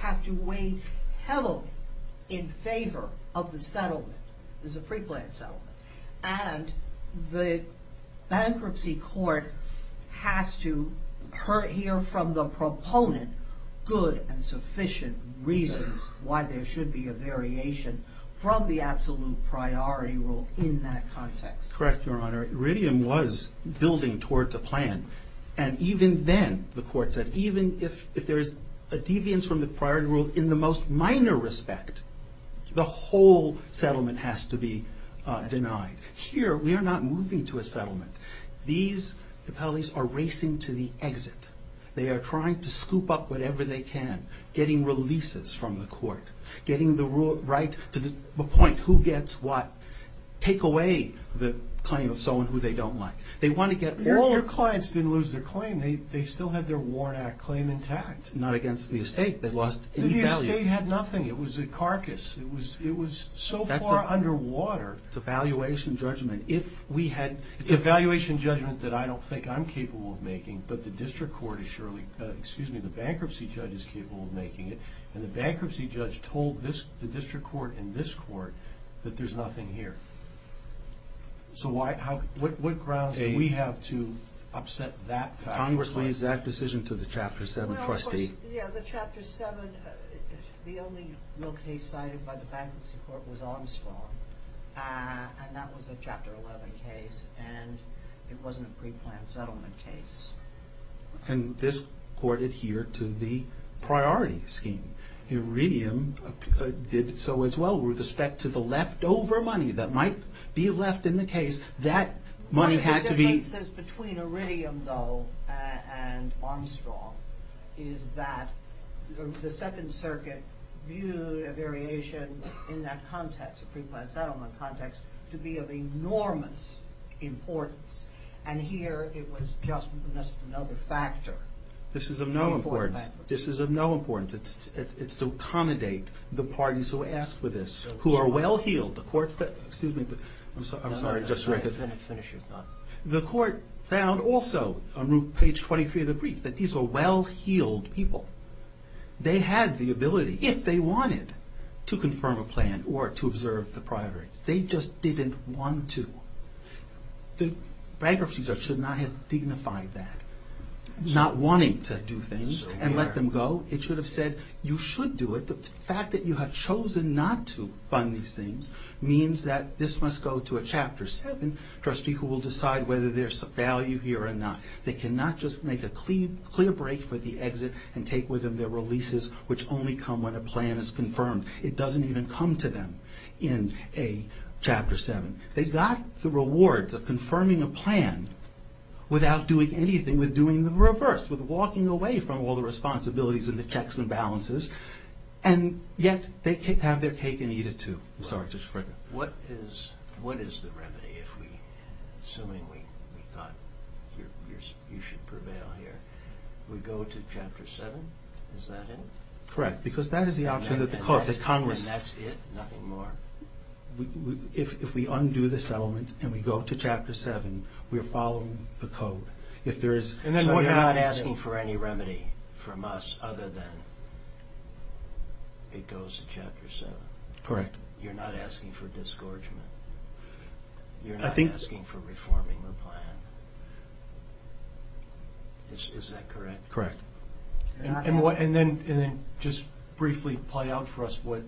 have to weigh heavily in favor of the settlement, the pre-planned settlement, and the Bankruptcy Court has to hear from the proponent good and sufficient reasons why there should be a variation from the absolute priority rule in that context. Correct, Your Honor. Iridium was building towards a plan, and even then, the Court said, even if there is a deviance from the priority rule in the most minor respect, the whole settlement has to be denied. Here, we are not moving to a settlement. These appellees are racing to the exit. They are trying to scoop up whatever they can, getting releases from the Court, getting the right to appoint who gets what, take away the claim of someone who they don't like. They want to get all... Not against the estate that lost any value. The estate had nothing. It was a carcass. It was so far underwater. It's a valuation judgment. It's a valuation judgment that I don't think I'm capable of making, but the Bankruptcy Judge is capable of making it, and the Bankruptcy Judge told the District Court and this Court that there's nothing here. So what grounds do we have to upset that fact? Congress leads that decision to the Chapter 7 trustee. Yeah, the Chapter 7, the only real case cited by the Bankruptcy Court was Armstrong, and that was a Chapter 11 case, and it wasn't a pre-planned settlement case. And this Court adhered to the priority scheme. Iridium did so as well with respect to the leftover money that might be left in the case. That money had to be... And Armstrong is that the Second Circuit viewed a variation in that context, a pre-planned settlement context, to be of enormous importance, and here it was just another factor. This is of no importance. This is of no importance. It's to accommodate the parties who asked for this, who are well-heeled. The Court... Excuse me, but... I'm sorry, just so I could... Finish your thought. The Court found also, on page 23 of the brief, that these were well-heeled people. They had the ability, if they wanted, to confirm a plan or to observe the priorities. They just didn't want to. The Bankruptcy Court should not have dignified that, not wanting to do things and let them go. It should have said, you should do it. The fact that you have chosen not to fund these things means that this must go to a Chapter 7 trustee who will decide whether there's some value here or not. They cannot just make a clear break for the exit and take with them their releases, which only come when a plan is confirmed. It doesn't even come to them in a Chapter 7. They got the rewards of confirming a plan without doing anything, with doing the reverse, with walking away from all the responsibilities and the have their cake and eat it, too. I'm sorry. What is the remedy if we, assuming we thought you should prevail here, we go to Chapter 7? Is that it? Correct, because that is the option that the Court, that Congress... And that's it? Nothing more? If we undo the settlement and we go to Chapter 7, we're following the Code. If there is... So you're not asking for any remedy from us other than it goes to Chapter 7? Correct. You're not asking for disgorgement? You're not asking for reforming the plan? Is that correct? Correct. And then just briefly play out for us what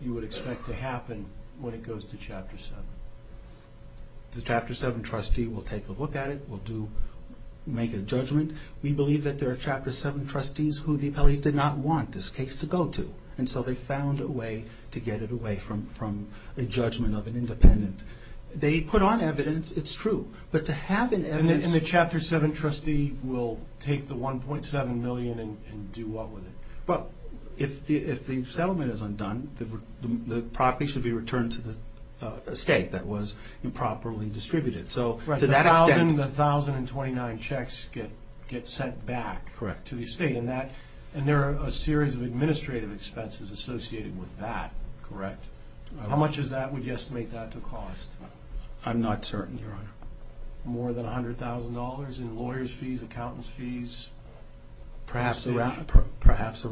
you would expect to happen when it goes to Chapter 7. The Chapter 7 trustee will take a look at it, will make a judgment. We believe that there are Chapter 7 trustees who the appellees did not want this case to go to, and so they found a way to get it away from a judgment of an independent. They put on evidence, it's true, but to have an evidence... And the Chapter 7 trustee will take the $1.7 million and do what with it? If the settlement is undone, the property should be returned to the estate that was improperly distributed. Right. So to that extent... The 1,029 checks get sent back to the estate, and there are a series of administrative expenses associated with that, correct? Correct. How much is that? Would you estimate that to cost? I'm not certain, Your Honor. More than $100,000 in lawyers' fees, accountants' fees? Perhaps around that.